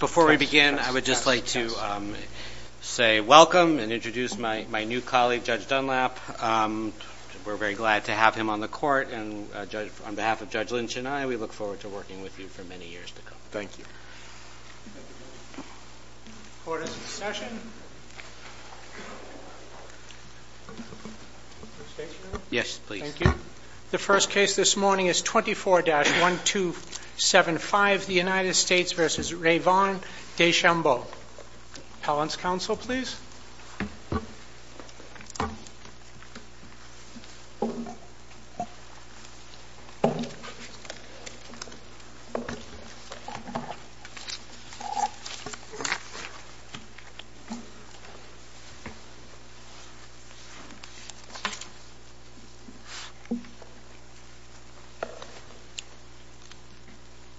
Before we begin, I would like to say welcome and introduce my new colleague, Judge Dunlap. We're very glad to have him on the court. On behalf of Judge Lynch and I, we look forward to working with you for many years to come. Thank you. The first case this morning is 24-1275, the United States v. Rayvon Deschambault. Appellant's counsel, please.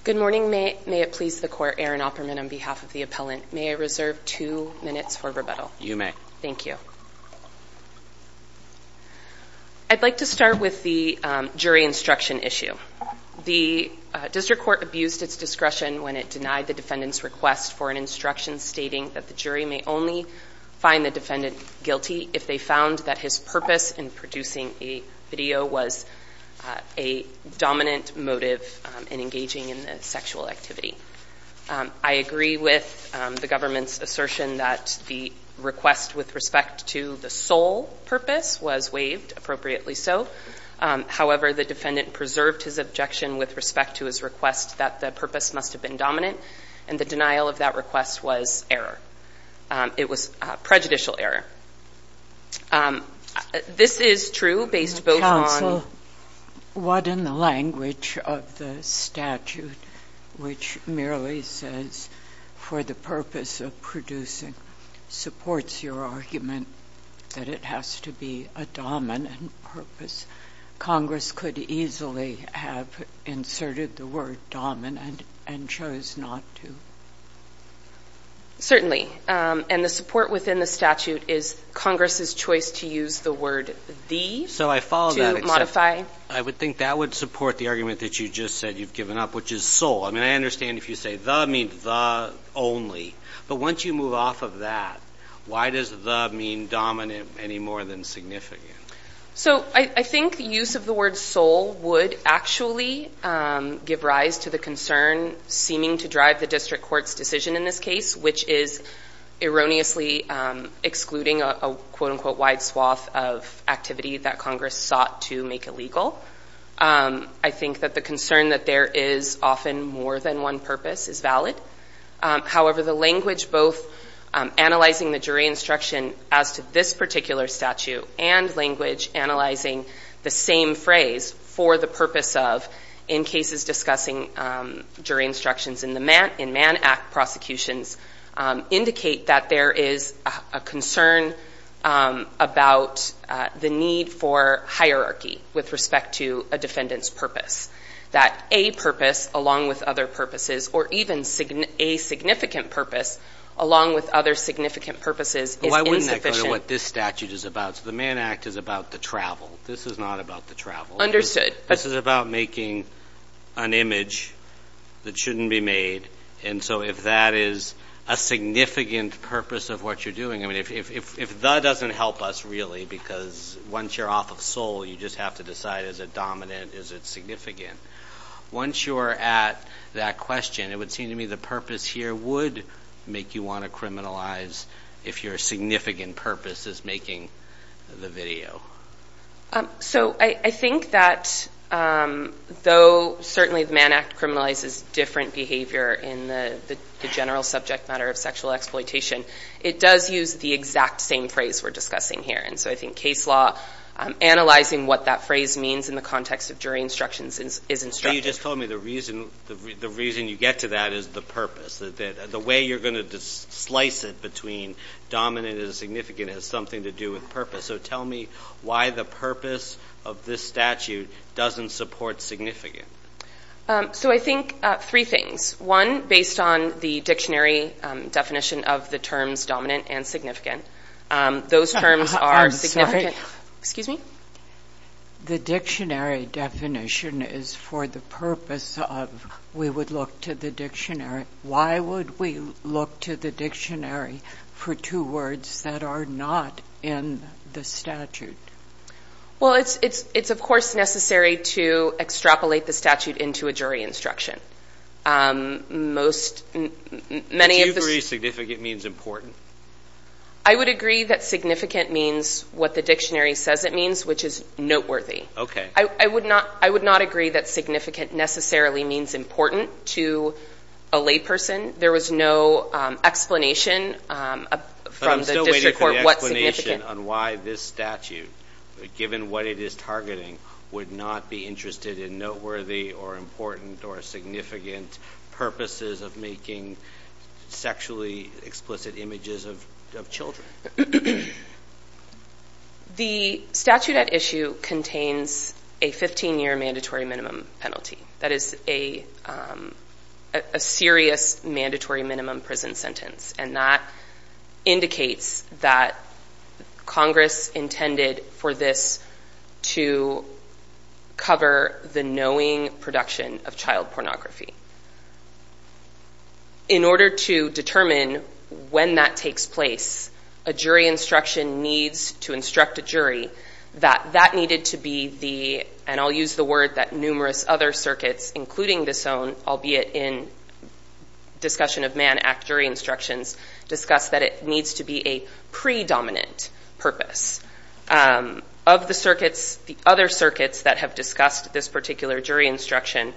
Good morning. May it please the court, Aaron Opperman on behalf of the appellant, may I reserve two minutes for rebuttal? You may. Thank you. I'd like to start with the jury instruction issue. The district court abused its discretion when it denied the defendant's request for an instruction stating that the jury may only find the defendant guilty if they found that his purpose in producing a video was a dominant motive in engaging in the sexual activity. I agree with the government's assertion that the request with respect to the sole purpose was waived, appropriately so. However, the defendant preserved his objection with respect to his request that the purpose must have been dominant, and the denial of that request was error. It was prejudicial error. Counsel, what in the language of the statute which merely says for the purpose of producing supports your argument that it has to be a dominant purpose? Congress could easily have inserted the word dominant and chose not to. Certainly. And the support within the statute is Congress's choice to use the word the. So I follow that. I would think that would support the argument that you just said you've given up, which is sole. I mean, I understand if you say the means the only. But once you move off of that, why does the mean dominant any more than significant? So I think the use of the word sole would actually give rise to the concern seeming to drive the district court's decision in this case, which is erroneously excluding a quote unquote wide swath of activity that Congress sought to make illegal. I think that the concern that there is often more than one purpose is valid. However, the language both analyzing the jury instruction as to this particular statute and language analyzing the same phrase for the purpose of in cases discussing jury instructions in the man in Man Act prosecutions indicate that there is a concern about the need for hierarchy with respect to a defendant's purpose. That a purpose along with other purposes or even a significant purpose along with other significant purposes is insufficient. Why wouldn't that go to what this statute is about? So the Man Act is about the travel. This is not about the travel. This is about making an image that shouldn't be made. And so if that is a significant purpose of what you're doing, I mean, if that doesn't help us really because once you're off of sole, you just have to decide is it dominant, is it significant. Once you're at that question, it would seem to me the purpose here would make you want to criminalize if your significant purpose is making the video. So I think that though certainly the Man Act criminalizes different behavior in the general subject matter of sexual exploitation, it does use the exact same phrase we're discussing here. And so I think case law analyzing what that phrase means in the context of jury instructions is instructive. You just told me the reason you get to that is the purpose. The way you're going to slice it between dominant and significant has something to do with purpose. So tell me why the purpose of this statute doesn't support significant. So I think three things. One, based on the dictionary definition of the terms dominant and significant, those terms are significant. The dictionary definition is for the purpose of we would look to the dictionary. Why would we look to the dictionary for two words that are not in the statute? Well, it's of course necessary to extrapolate the statute into a jury instruction. Do you agree significant means important? I would agree that significant means what the dictionary says it means, which is noteworthy. I would not agree that significant necessarily means important to a layperson. There was no explanation from the district court what significant... The statute at issue contains a 15-year mandatory minimum penalty. That is a serious mandatory minimum prison sentence. And that indicates that Congress intended for this to cover the knowing production of child pornography. In order to determine when that takes place, a jury instruction needs to instruct a jury that that needed to be the... And I'll use the word that numerous other circuits, including this own, albeit in discussion of Mann Act jury instructions, discussed that it needs to be a predominant purpose. Of the circuits, the other circuits that have discussed this particular jury instruction,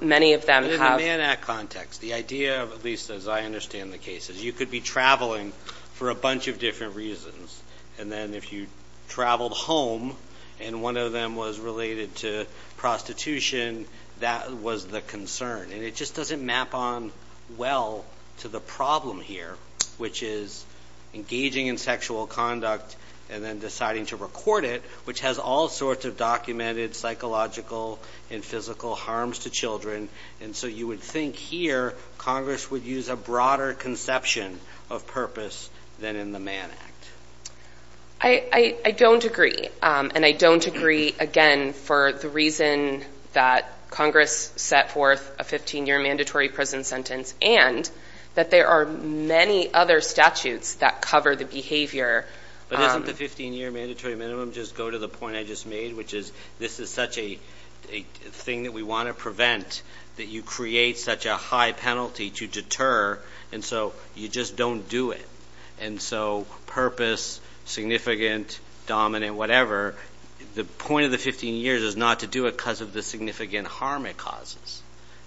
many of them have... But in the Mann Act context, the idea, at least as I understand the case, is you could be traveling for a bunch of different reasons. And then if you traveled home and one of them was related to prostitution, that was the concern. And it just doesn't map on well to the problem here, which is engaging in sexual conduct and then deciding to record it, which has all sorts of documented psychological and physical harms to children. And so you would think here Congress would use a broader conception of purpose than in the Mann Act. I don't agree. And I don't agree, again, for the reason that Congress set forth a 15-year mandatory prison sentence and that there are many other statutes that cover the behavior... But doesn't the 15-year mandatory minimum just go to the point I just made, which is this is such a thing that we want to prevent, that you create such a high penalty to deter, and so you just don't do it. And so purpose, significant, dominant, whatever, the point of the 15 years is not to do it because of the significant harm it causes.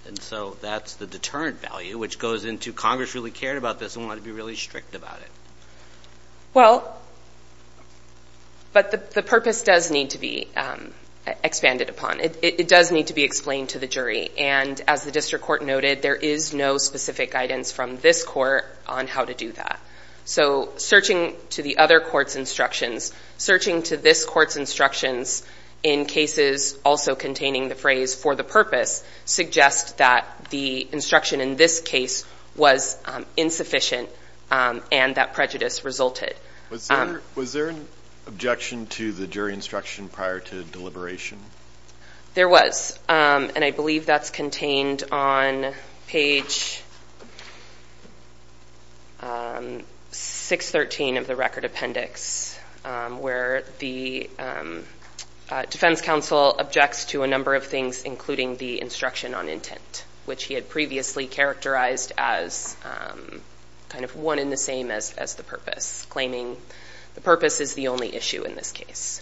And so that's the deterrent value, which goes into Congress really cared about this and wanted to be really strict about it. Well, but the purpose does need to be expanded upon. It does need to be explained to the jury. And as the district court noted, there is no specific guidance from this court on how to do that. So searching to the other court's instructions, searching to this court's instructions in cases also containing the phrase for the purpose suggests that the instruction in this case was insufficient and that prejudice resulted. Was there an objection to the jury instruction prior to deliberation? There was, and I believe that's contained on page 613 of the record appendix, where the defense counsel objects to a number of things, including the instruction on intent, which he had previously characterized as kind of one and the same as the purpose, claiming the purpose is the only issue in this case.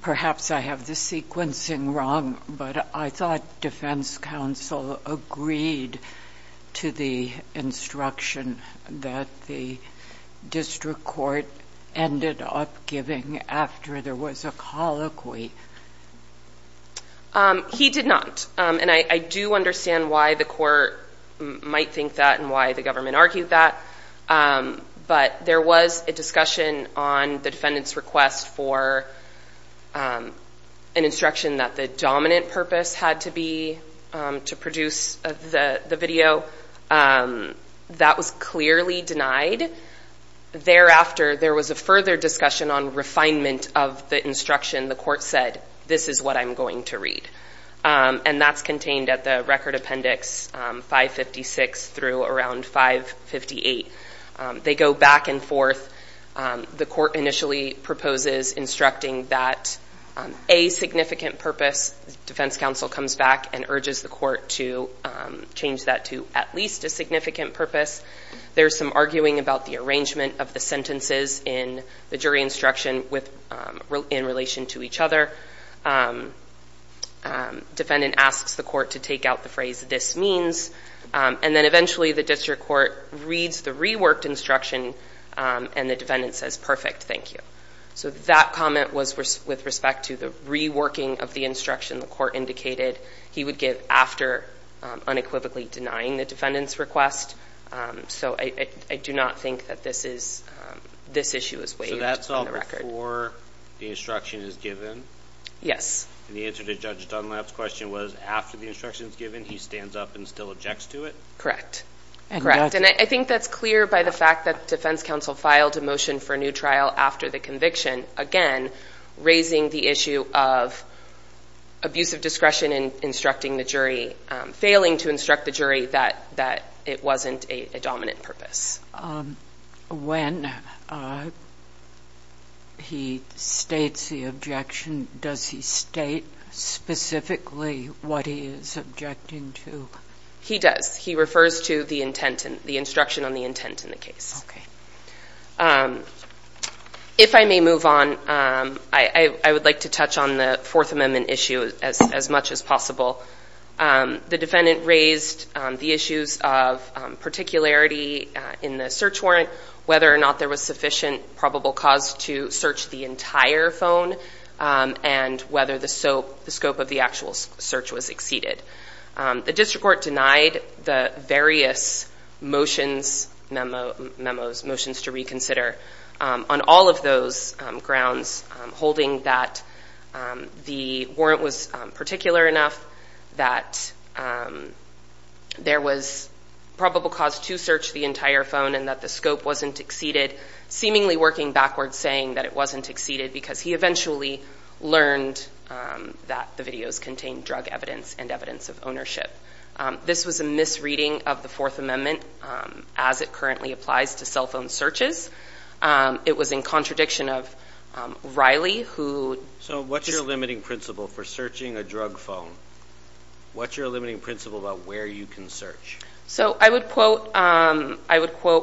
Perhaps I have the sequencing wrong, but I thought defense counsel agreed to the instruction that the district court ended up giving after there was a colloquy. He did not. And I do understand why the court might think that and why the government argued that. But there was a discussion on the defendant's request for an instruction that the dominant purpose had to be to produce the video. That was clearly denied. Thereafter, there was a further discussion on refinement of the instruction. The court said, this is what I'm going to read. And that's contained at the record appendix 556 through around 558. They go back and forth. The court initially proposes instructing that a significant purpose. Defense counsel comes back and urges the court to change that to at least a significant purpose. There's some arguing about the arrangement of the sentences in the jury instruction in relation to each other. Defendant asks the court to take out the phrase, this means. And then eventually the district court reads the reworked instruction and the defendant says, perfect, thank you. So that comment was with respect to the reworking of the instruction the court indicated he would give after unequivocally denying the defendant's request. So I do not think that this issue is waived in the record. And the answer to Judge Dunlap's question was, after the instruction is given, he stands up and still objects to it? Correct. And I think that's clear by the fact that defense counsel filed a motion for a new trial after the conviction. Again, raising the issue of abusive discretion in instructing the jury, failing to instruct the jury that it wasn't a dominant purpose. When he states the objection, does he state specifically what he is objecting to? He does. He refers to the instruction on the intent in the case. If I may move on, I would like to touch on the Fourth Amendment issue as much as possible. The defendant raised the issues of particularity in the search warrant, whether or not there was sufficient probable cause to search the entire phone, and whether the scope of the actual search was exceeded. The district court denied the various motions, memos, motions to reconsider, on all of those grounds, holding that the warrant was particular enough. He also denied that there was probable cause to search the entire phone, and that the scope wasn't exceeded, seemingly working backwards, saying that it wasn't exceeded, because he eventually learned that the videos contained drug evidence and evidence of ownership. This was a misreading of the Fourth Amendment as it currently applies to cell phone searches. It was in contradiction of Riley, who... What's your limiting principle about where you can search? I would quote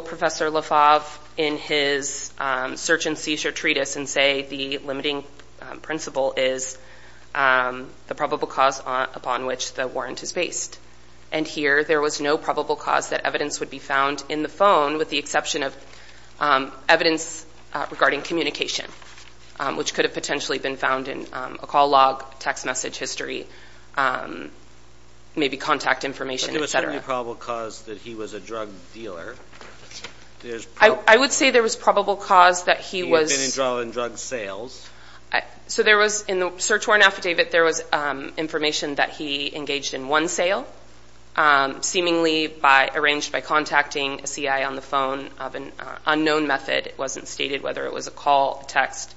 Professor LaFave in his search and seizure treatise and say the limiting principle is the probable cause upon which the warrant is based. And here, there was no probable cause that evidence would be found in the phone, with the exception of evidence regarding communication, which could have potentially been found in a call log, text message history. But there was certainly probable cause that he was a drug dealer. I would say there was probable cause that he was... He had been involved in drug sales. So there was, in the search warrant affidavit, there was information that he engaged in one sale, seemingly arranged by contacting a CI on the phone of an unknown method. It wasn't stated whether it was a call, text,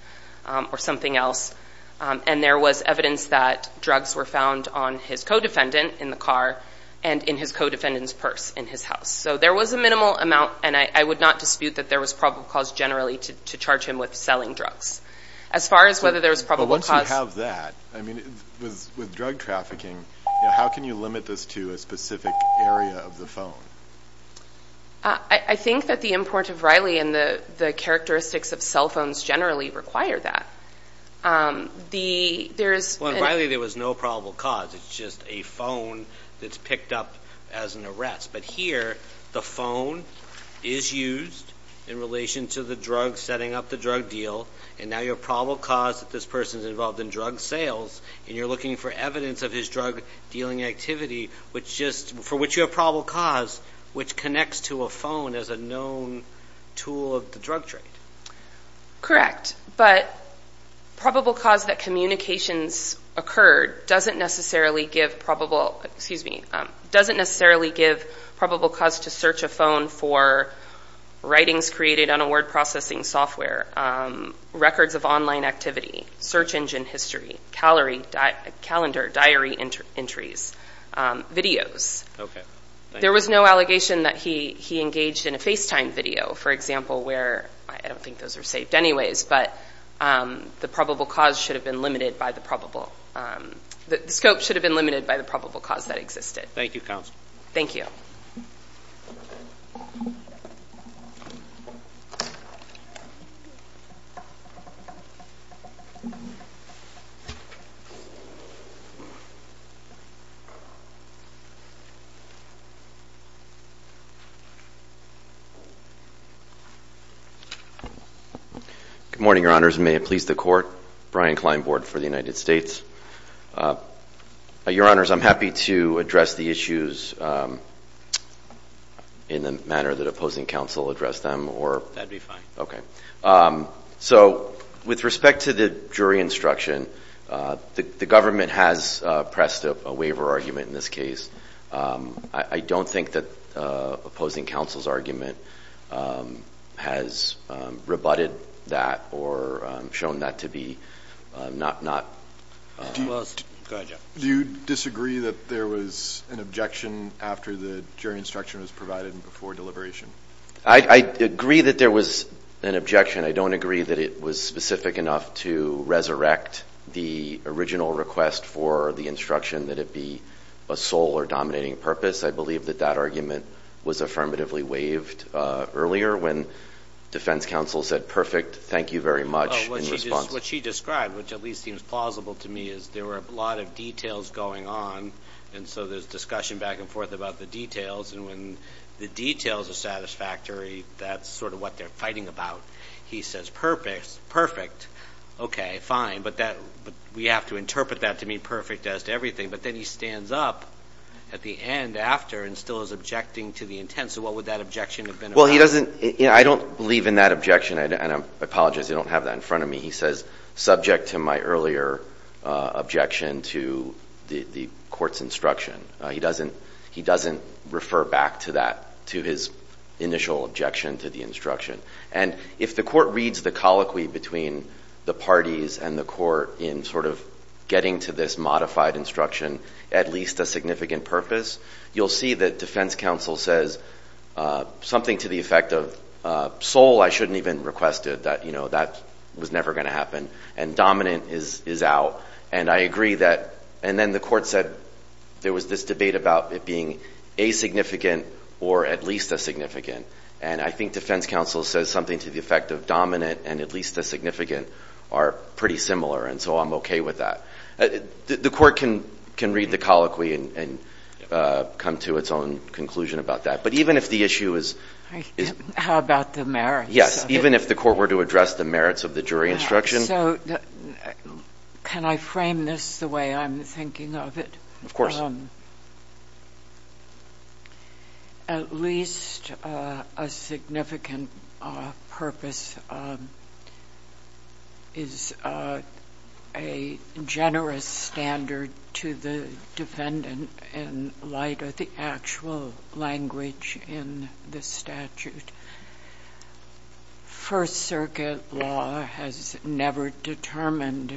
or something else. And there was evidence that drugs were found on his co-defendant in the car and in his co-defendant's purse in his house. So there was a minimal amount, and I would not dispute that there was probable cause generally to charge him with selling drugs. As far as whether there was probable cause... With drug trafficking, how can you limit this to a specific area of the phone? I think that the import of Riley and the characteristics of cell phones generally require that. Well, in Riley, there was no probable cause. It's just a phone that's picked up as an arrest. But here, the phone is used in relation to the drug, setting up the drug deal. And now you have probable cause that this person's involved in drug sales, and you're looking for evidence of his drug-dealing activity, for which you have probable cause, which connects to a phone as a known tool of the drug trade. Correct. But probable cause that communications occurred doesn't necessarily give probable cause to search a phone for writings created on a word processing software, records of online activity, search engine history, calendar, diary entries, videos. There was no allegation that he engaged in a FaceTime video, for example, where... I don't think those are saved anyways, but the probable cause should have been limited by the probable... The scope should have been limited by the probable cause that existed. Thank you, Counsel. Good morning, Your Honors. May it please the Court. Brian Klein, Board for the United States. Your Honors, I'm happy to address the issues in the manner that opposing counsel addressed them, or... That'd be fine. Okay. So with respect to the jury instruction, the government has pressed a waiver argument in this case. I don't think that opposing counsel's argument has rebutted that or shown that to be not... Do you disagree that there was an objection after the jury instruction was provided and before deliberation? I agree that there was an objection. I don't agree that it was specific enough to resurrect the original request for the instruction that it be a sole or dominating purpose. I believe that that argument was affirmatively waived earlier when defense counsel said, perfect, thank you very much. What she described, which at least seems plausible to me, is there were a lot of details going on, and so there's discussion back and forth about the details. And when the details are satisfactory, that's sort of what they're fighting about. He says, perfect, okay, fine, but we have to interpret that to mean perfect as to everything. But then he stands up at the end after and still is objecting to the intent. So what would that objection have been about? Well, he doesn't... I don't believe in that objection, and I apologize. I don't have that in front of me. He says, subject to my earlier objection to the court's instruction. He doesn't refer back to that, to his initial objection to the instruction. And if the court reads the colloquy between the parties and the court in sort of getting to this modified instruction, at least a significant purpose, you'll see that defense counsel says something to the effect of, sole, I shouldn't even request it. That was never going to happen. And dominant is out. And then the court said there was this debate about it being asignificant or at least asignificant. And I think defense counsel says something to the effect of dominant and at least asignificant are pretty similar, and so I'm okay with that. The court can read the colloquy and come to its own conclusion about that. But even if the issue is... How about the merits? Yes, even if the court were to address the merits of the jury instruction... So can I frame this the way I'm thinking of it? Of course. At least a significant purpose is a generous standard to the defendant in light of the actual language of the defendant. There is no language in the statute. First Circuit law has never determined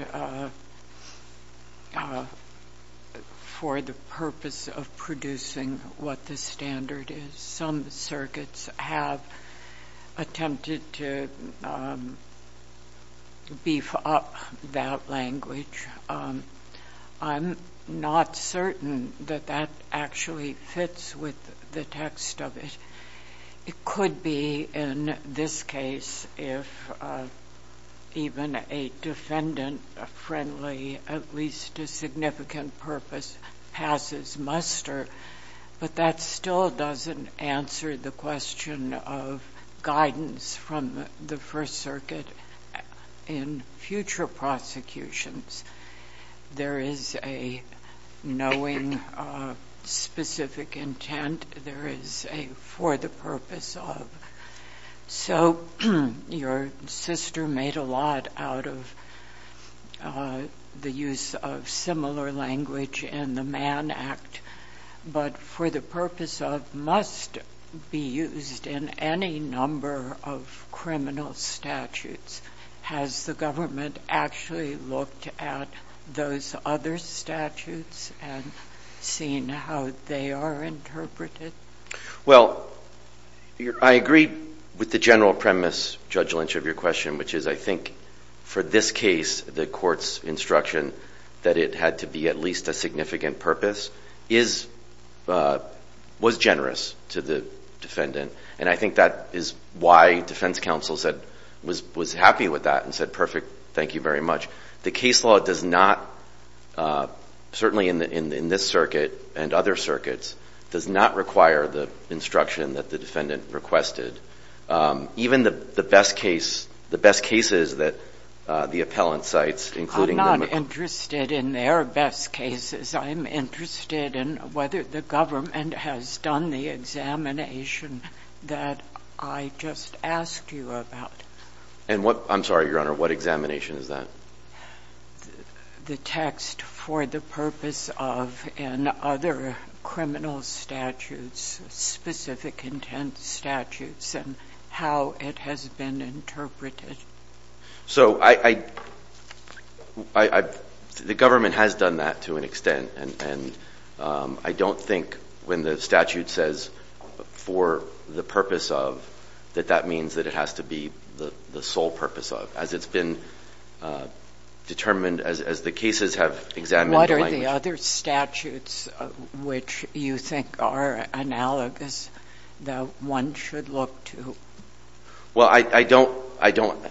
for the purpose of producing what the standard is. Some circuits have attempted to beef up that language. I'm not certain that that actually fits with the text of it. It could be in this case if even a defendant-friendly, at least a significant purpose, passes muster, but that still doesn't answer the question of guidance from the First Circuit in future prosecutions. There is a knowing specific intent. There is a for the purpose of. So your sister made a lot out of the use of similar language in the Mann Act, but for the purpose of must be used in any number of criminal statutes. Has the government actually looked at those other statutes and seen how they are interpreted? Well, I agree with the general premise, Judge Lynch, of your question, which is I think for this case the court's instruction that it had to be at least a significant purpose was generous to the defendant. And I think that is why defense counsel was happy with that and said, perfect, thank you very much. The case law does not, certainly in this circuit and other circuits, does not require the instruction that the defendant requested. Even the best case, the best cases that the appellant cites, including the- I'm not interested in their best cases. I'm interested in whether the government has done the examination that I just asked you about. I'm sorry, Your Honor, what examination is that? The text for the purpose of and other criminal statutes, specific intent statutes and how it has been interpreted. So the government has done that to an extent. And I don't think when the statute says for the purpose of, that that means that it has to be the sole purpose of, as it's been determined, as the cases have examined- What are the other statutes which you think are analogous that one should look to? Well, I don't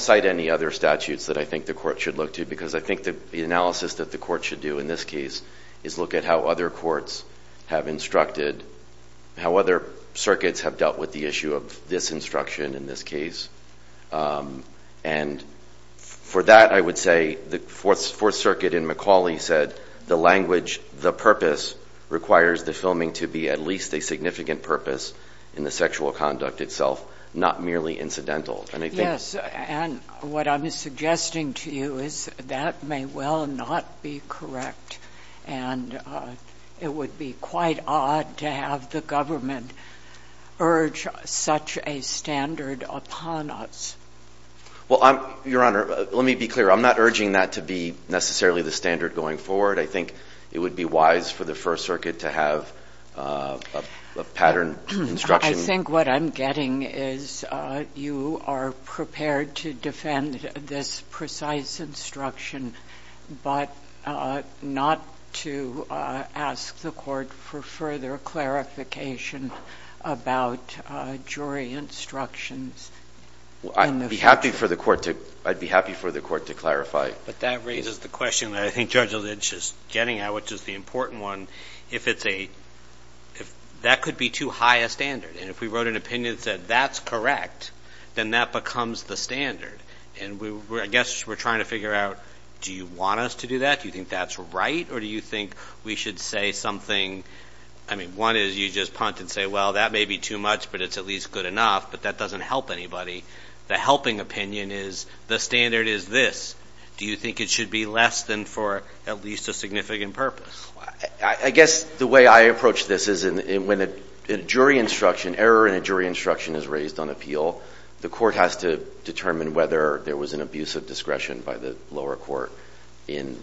cite any other statutes that I think the court should look to because I think the analysis that the court should do in this case is look at how other courts have instructed, how other circuits have dealt with the issue of this instruction in this case. And for that, I would say the Fourth Circuit in McAuley said the language, the purpose requires the filming to be at least a significant purpose in the sexual conduct itself, not merely incidental. Yes, and what I'm suggesting to you is that may well not be correct. And it would be quite odd to have the government urge such a standard upon us. Well, Your Honor, let me be clear. I'm not urging that to be necessarily the standard going forward. I think it would be wise for the First Circuit to have a pattern instruction. I think what I'm getting is you are prepared to defend this precise instruction but not to ask the court for further clarification about jury instructions. I'd be happy for the court to clarify. But that raises the question that I think Judge Alitch is getting at, which is the important one. If that could be too high a standard, and if we wrote an opinion that said that's correct, then that becomes the standard. And I guess we're trying to figure out do you want us to do that? Do you think that's right? Or do you think we should say something? I mean, one is you just punt and say, well, that may be too much, but it's at least good enough, but that doesn't help anybody. The helping opinion is the standard is this. Do you think it should be less than for at least a significant purpose? I guess the way I approach this is when a jury instruction, error in a jury instruction is raised on appeal, the court has to determine whether there was an abuse of discretion by the lower court in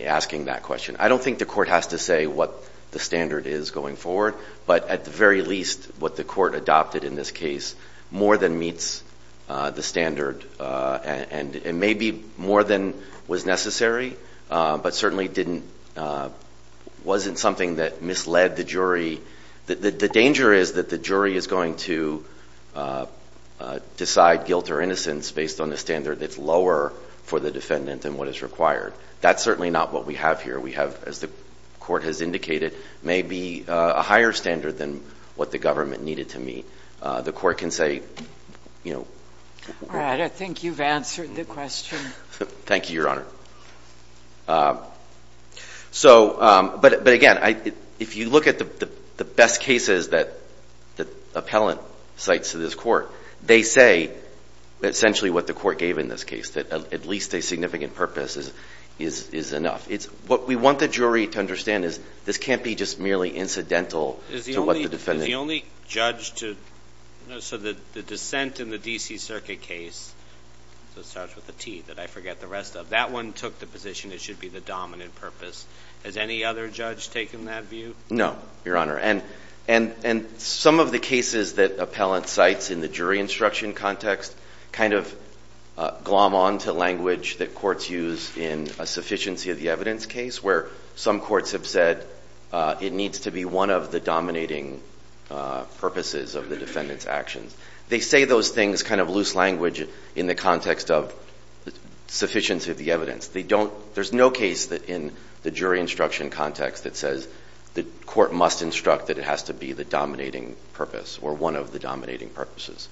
asking that question. I don't think the court has to say what the standard is going forward, but at the very least what the court adopted in this case more than meets the standard, and maybe more than was necessary, but certainly wasn't something that misled the jury. The danger is that the jury is going to decide guilt or innocence based on the standard that's lower for the defendant than what is required. That's certainly not what we have here. We have, as the court has indicated, maybe a higher standard than what the government needed to meet. The court can say, you know. All right. I think you've answered the question. Thank you, Your Honor. But, again, if you look at the best cases that the appellant cites to this court, they say essentially what the court gave in this case, that at least a significant purpose is enough. What we want the jury to understand is this can't be just merely incidental to what the defendant. Is the only judge to, so the dissent in the D.C. Circuit case, so it starts with a T that I forget the rest of, that one took the position it should be the dominant purpose. Has any other judge taken that view? No, Your Honor. And some of the cases that appellant cites in the jury instruction context kind of glom on to language that courts use in a sufficiency of the evidence case where some courts have said it needs to be one of the dominating purposes of the defendant's actions. They say those things kind of loose language in the context of sufficiency of the evidence. They don't, there's no case in the jury instruction context that says the court must instruct that it has to be the dominating purpose or one of the dominating purposes.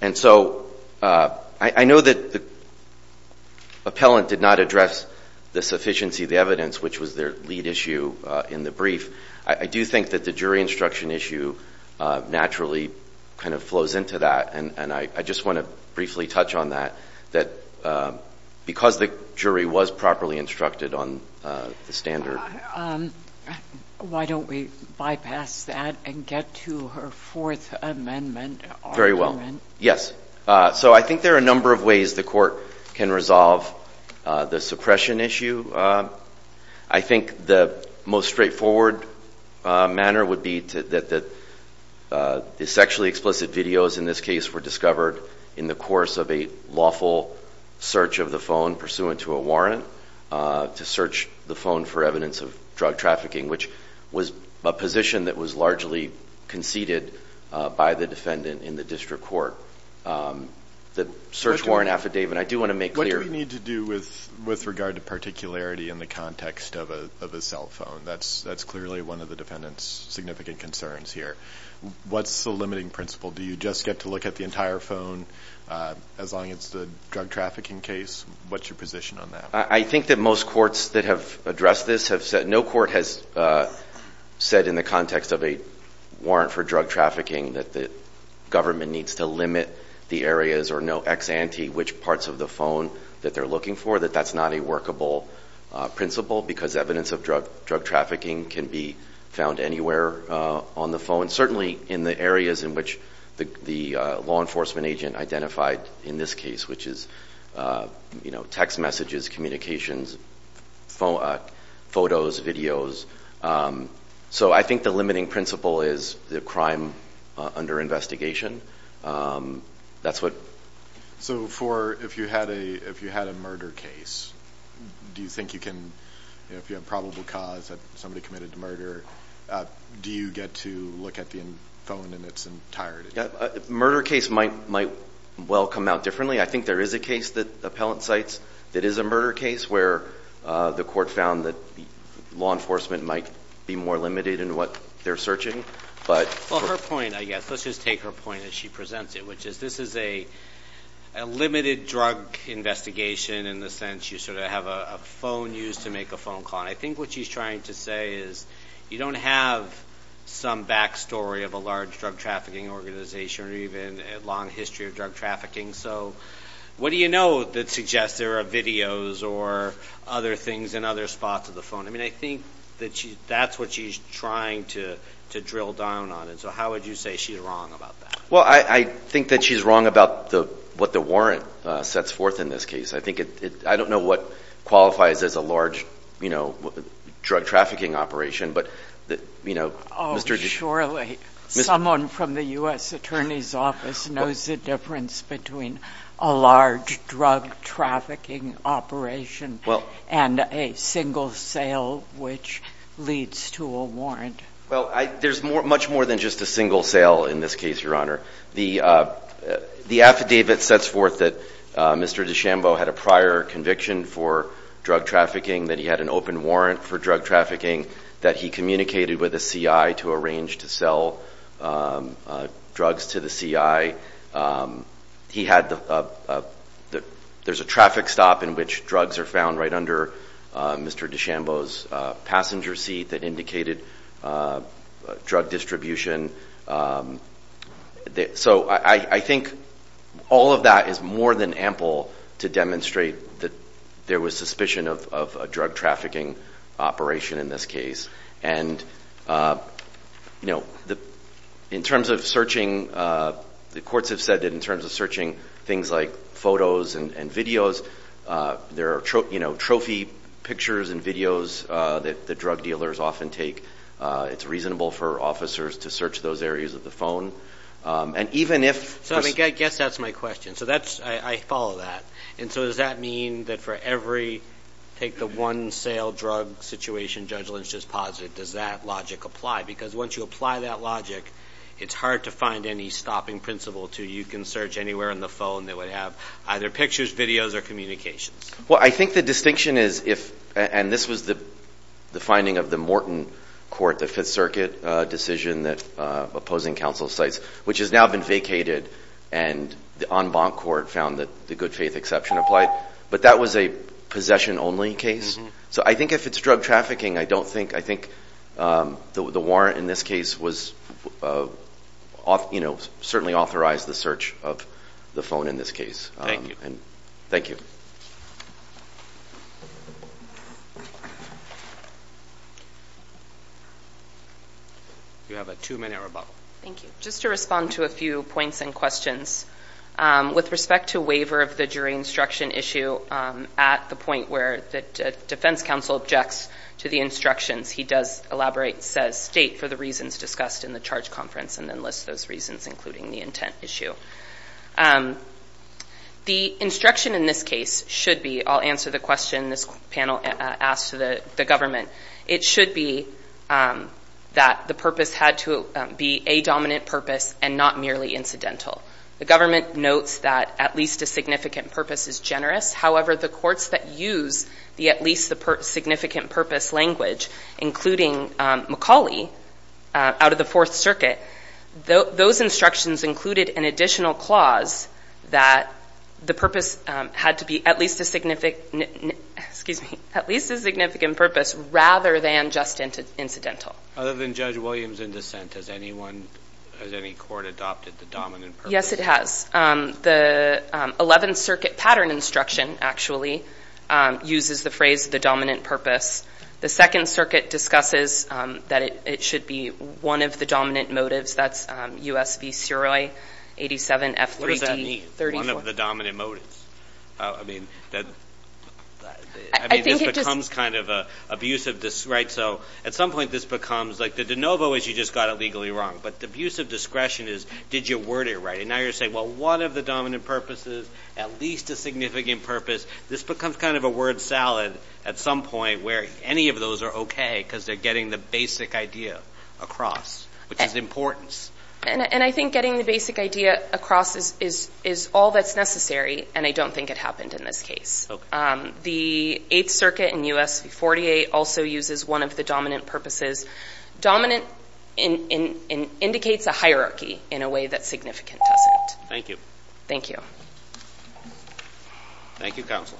And so I know that the appellant did not address the sufficiency of the evidence, which was their lead issue in the brief. I do think that the jury instruction issue naturally kind of flows into that and I just want to briefly touch on that, that because the jury was properly instructed on the standard. Why don't we bypass that and get to her fourth amendment argument? Very well. Yes. So I think there are a number of ways the court can resolve the suppression issue. I think the most straightforward manner would be that the sexually explicit videos in this case were discovered in the course of a lawful search of the phone pursuant to a warrant, to search the phone for evidence of drug trafficking, which was a position that was largely conceded by the defendant in the district court. The search warrant affidavit, I do want to make clear. What do we need to do with, with regard to particularity in the context of a cell phone? That's clearly one of the defendant's significant concerns here. What's the limiting principle? Do you just get to look at the entire phone as long as the drug trafficking case, what's your position on that? I think that most courts that have addressed this have said, no court has said in the context of a warrant for drug trafficking, that the government needs to limit the areas or no ex ante, which parts of the phone that they're looking for, that that's not a workable principle because evidence of drug, drug trafficking can be found anywhere on the phone. Certainly in the areas in which the, the law enforcement agent identified in this case, which is you know, text messages, communications, phone photos, videos. So I think the limiting principle is the crime under investigation. That's what. So for, if you had a, if you had a murder case, do you think you can, if you have probable cause that somebody committed murder, do you get to look at the phone in its entirety? Murder case might, might well come out differently. I think there is a case that appellant sites that is a murder case where the court found that law enforcement might be more limited in what they're searching, but. Well, her point, I guess, let's just take her point as she presents it, which is, this is a, a limited drug investigation. In the sense you sort of have a phone used to make a phone call. I think what she's trying to say is you don't have some backstory of a large drug trafficking organization or even a long history of drug trafficking. So what do you know that suggests there are videos or other things in other spots of the phone? I mean, I think that she, that's what she's trying to, to drill down on. And so how would you say she's wrong about that? Well, I think that she's wrong about the, what the warrant sets forth in this case. I think it, I don't know what qualifies as a large, you know, drug trafficking operation, but the, you know. Oh, surely someone from the U.S. Attorney's Office knows the difference between a large drug trafficking operation and a single sale, which leads to a warrant. Well, I, there's more, much more than just a single sale in this case, Your Honor. The, the affidavit sets forth that Mr. DeChambeau had a prior conviction for drug trafficking, that he had an open warrant for drug trafficking, that he communicated with a CI to arrange to sell drugs to the CI. He had the, there's a traffic stop in which drugs are found right under Mr. DeChambeau's passenger seat that indicated drug distribution. So I think all of that is more than ample to demonstrate that there was suspicion of a drug trafficking operation in this case. And, you know, in terms of searching, the courts have said that in terms of searching things like photos and videos, there are, you know, trophy pictures and videos that the drug dealers often take. It's reasonable for officers to search those areas of the phone. And even if. So I mean, I guess that's my question. So that's, I follow that. And so does that mean that for every, take the one sale drug situation Judge Lynch just posited, does that logic apply? Because once you apply that logic, it's hard to find any stopping principle to you can search anywhere on the phone that would have either pictures, videos, or communications. Well, I think the distinction is if, and this was the, the finding of the Morton court, the fifth circuit decision that opposing counsel sites, which has now been vacated. And the en banc court found that the good faith exception applied, but that was a possession only case. So I think if it's drug trafficking, I don't think, I think the, the warrant in this case was off, you know, certainly authorized the search of the phone in this case. Thank you. Thank you. You have two minutes or above. Thank you. Just to respond to a few points and questions. With respect to waiver of the jury instruction issue at the point where the defense counsel objects to the instructions, he does elaborate, says state for the reasons discussed in the charge conference, and then lists those reasons, including the intent issue. The instruction in this case should be, I'll answer the question this panel asked to the government. It should be that the purpose had to be a dominant purpose and not merely incidental. The government notes that at least a significant purpose is generous. However, the courts that use the, at least the significant purpose language, including McCauley out of the fourth circuit, those instructions included an additional clause that the purpose had to be at least a significant, excuse me, at least a significant purpose rather than just incidental. Other than Judge Williams in dissent, has anyone, has any court adopted the dominant purpose? Yes, it has. The 11th circuit pattern instruction actually uses the phrase the dominant purpose. The second circuit discusses that it should be one of the dominant motives. That's U.S. v. Suroy, 87 F3D. What does that mean, one of the dominant motives? I mean, this becomes kind of an abusive, right? So at some point this becomes, like the de novo is you just got it legally wrong, but the abuse of discretion is did you word it right? And now you're saying, well, one of the dominant purposes, at least a significant purpose. This becomes kind of a word salad at some point where any of those are okay because they're getting the basic idea across, which is importance. And I think getting the basic idea across is all that's necessary, and I don't think it happened in this case. The eighth circuit in U.S. v. 48 also uses one of the dominant purposes. Dominant indicates a hierarchy in a way that's significant to us. Thank you. Thank you. Thank you, Counsel.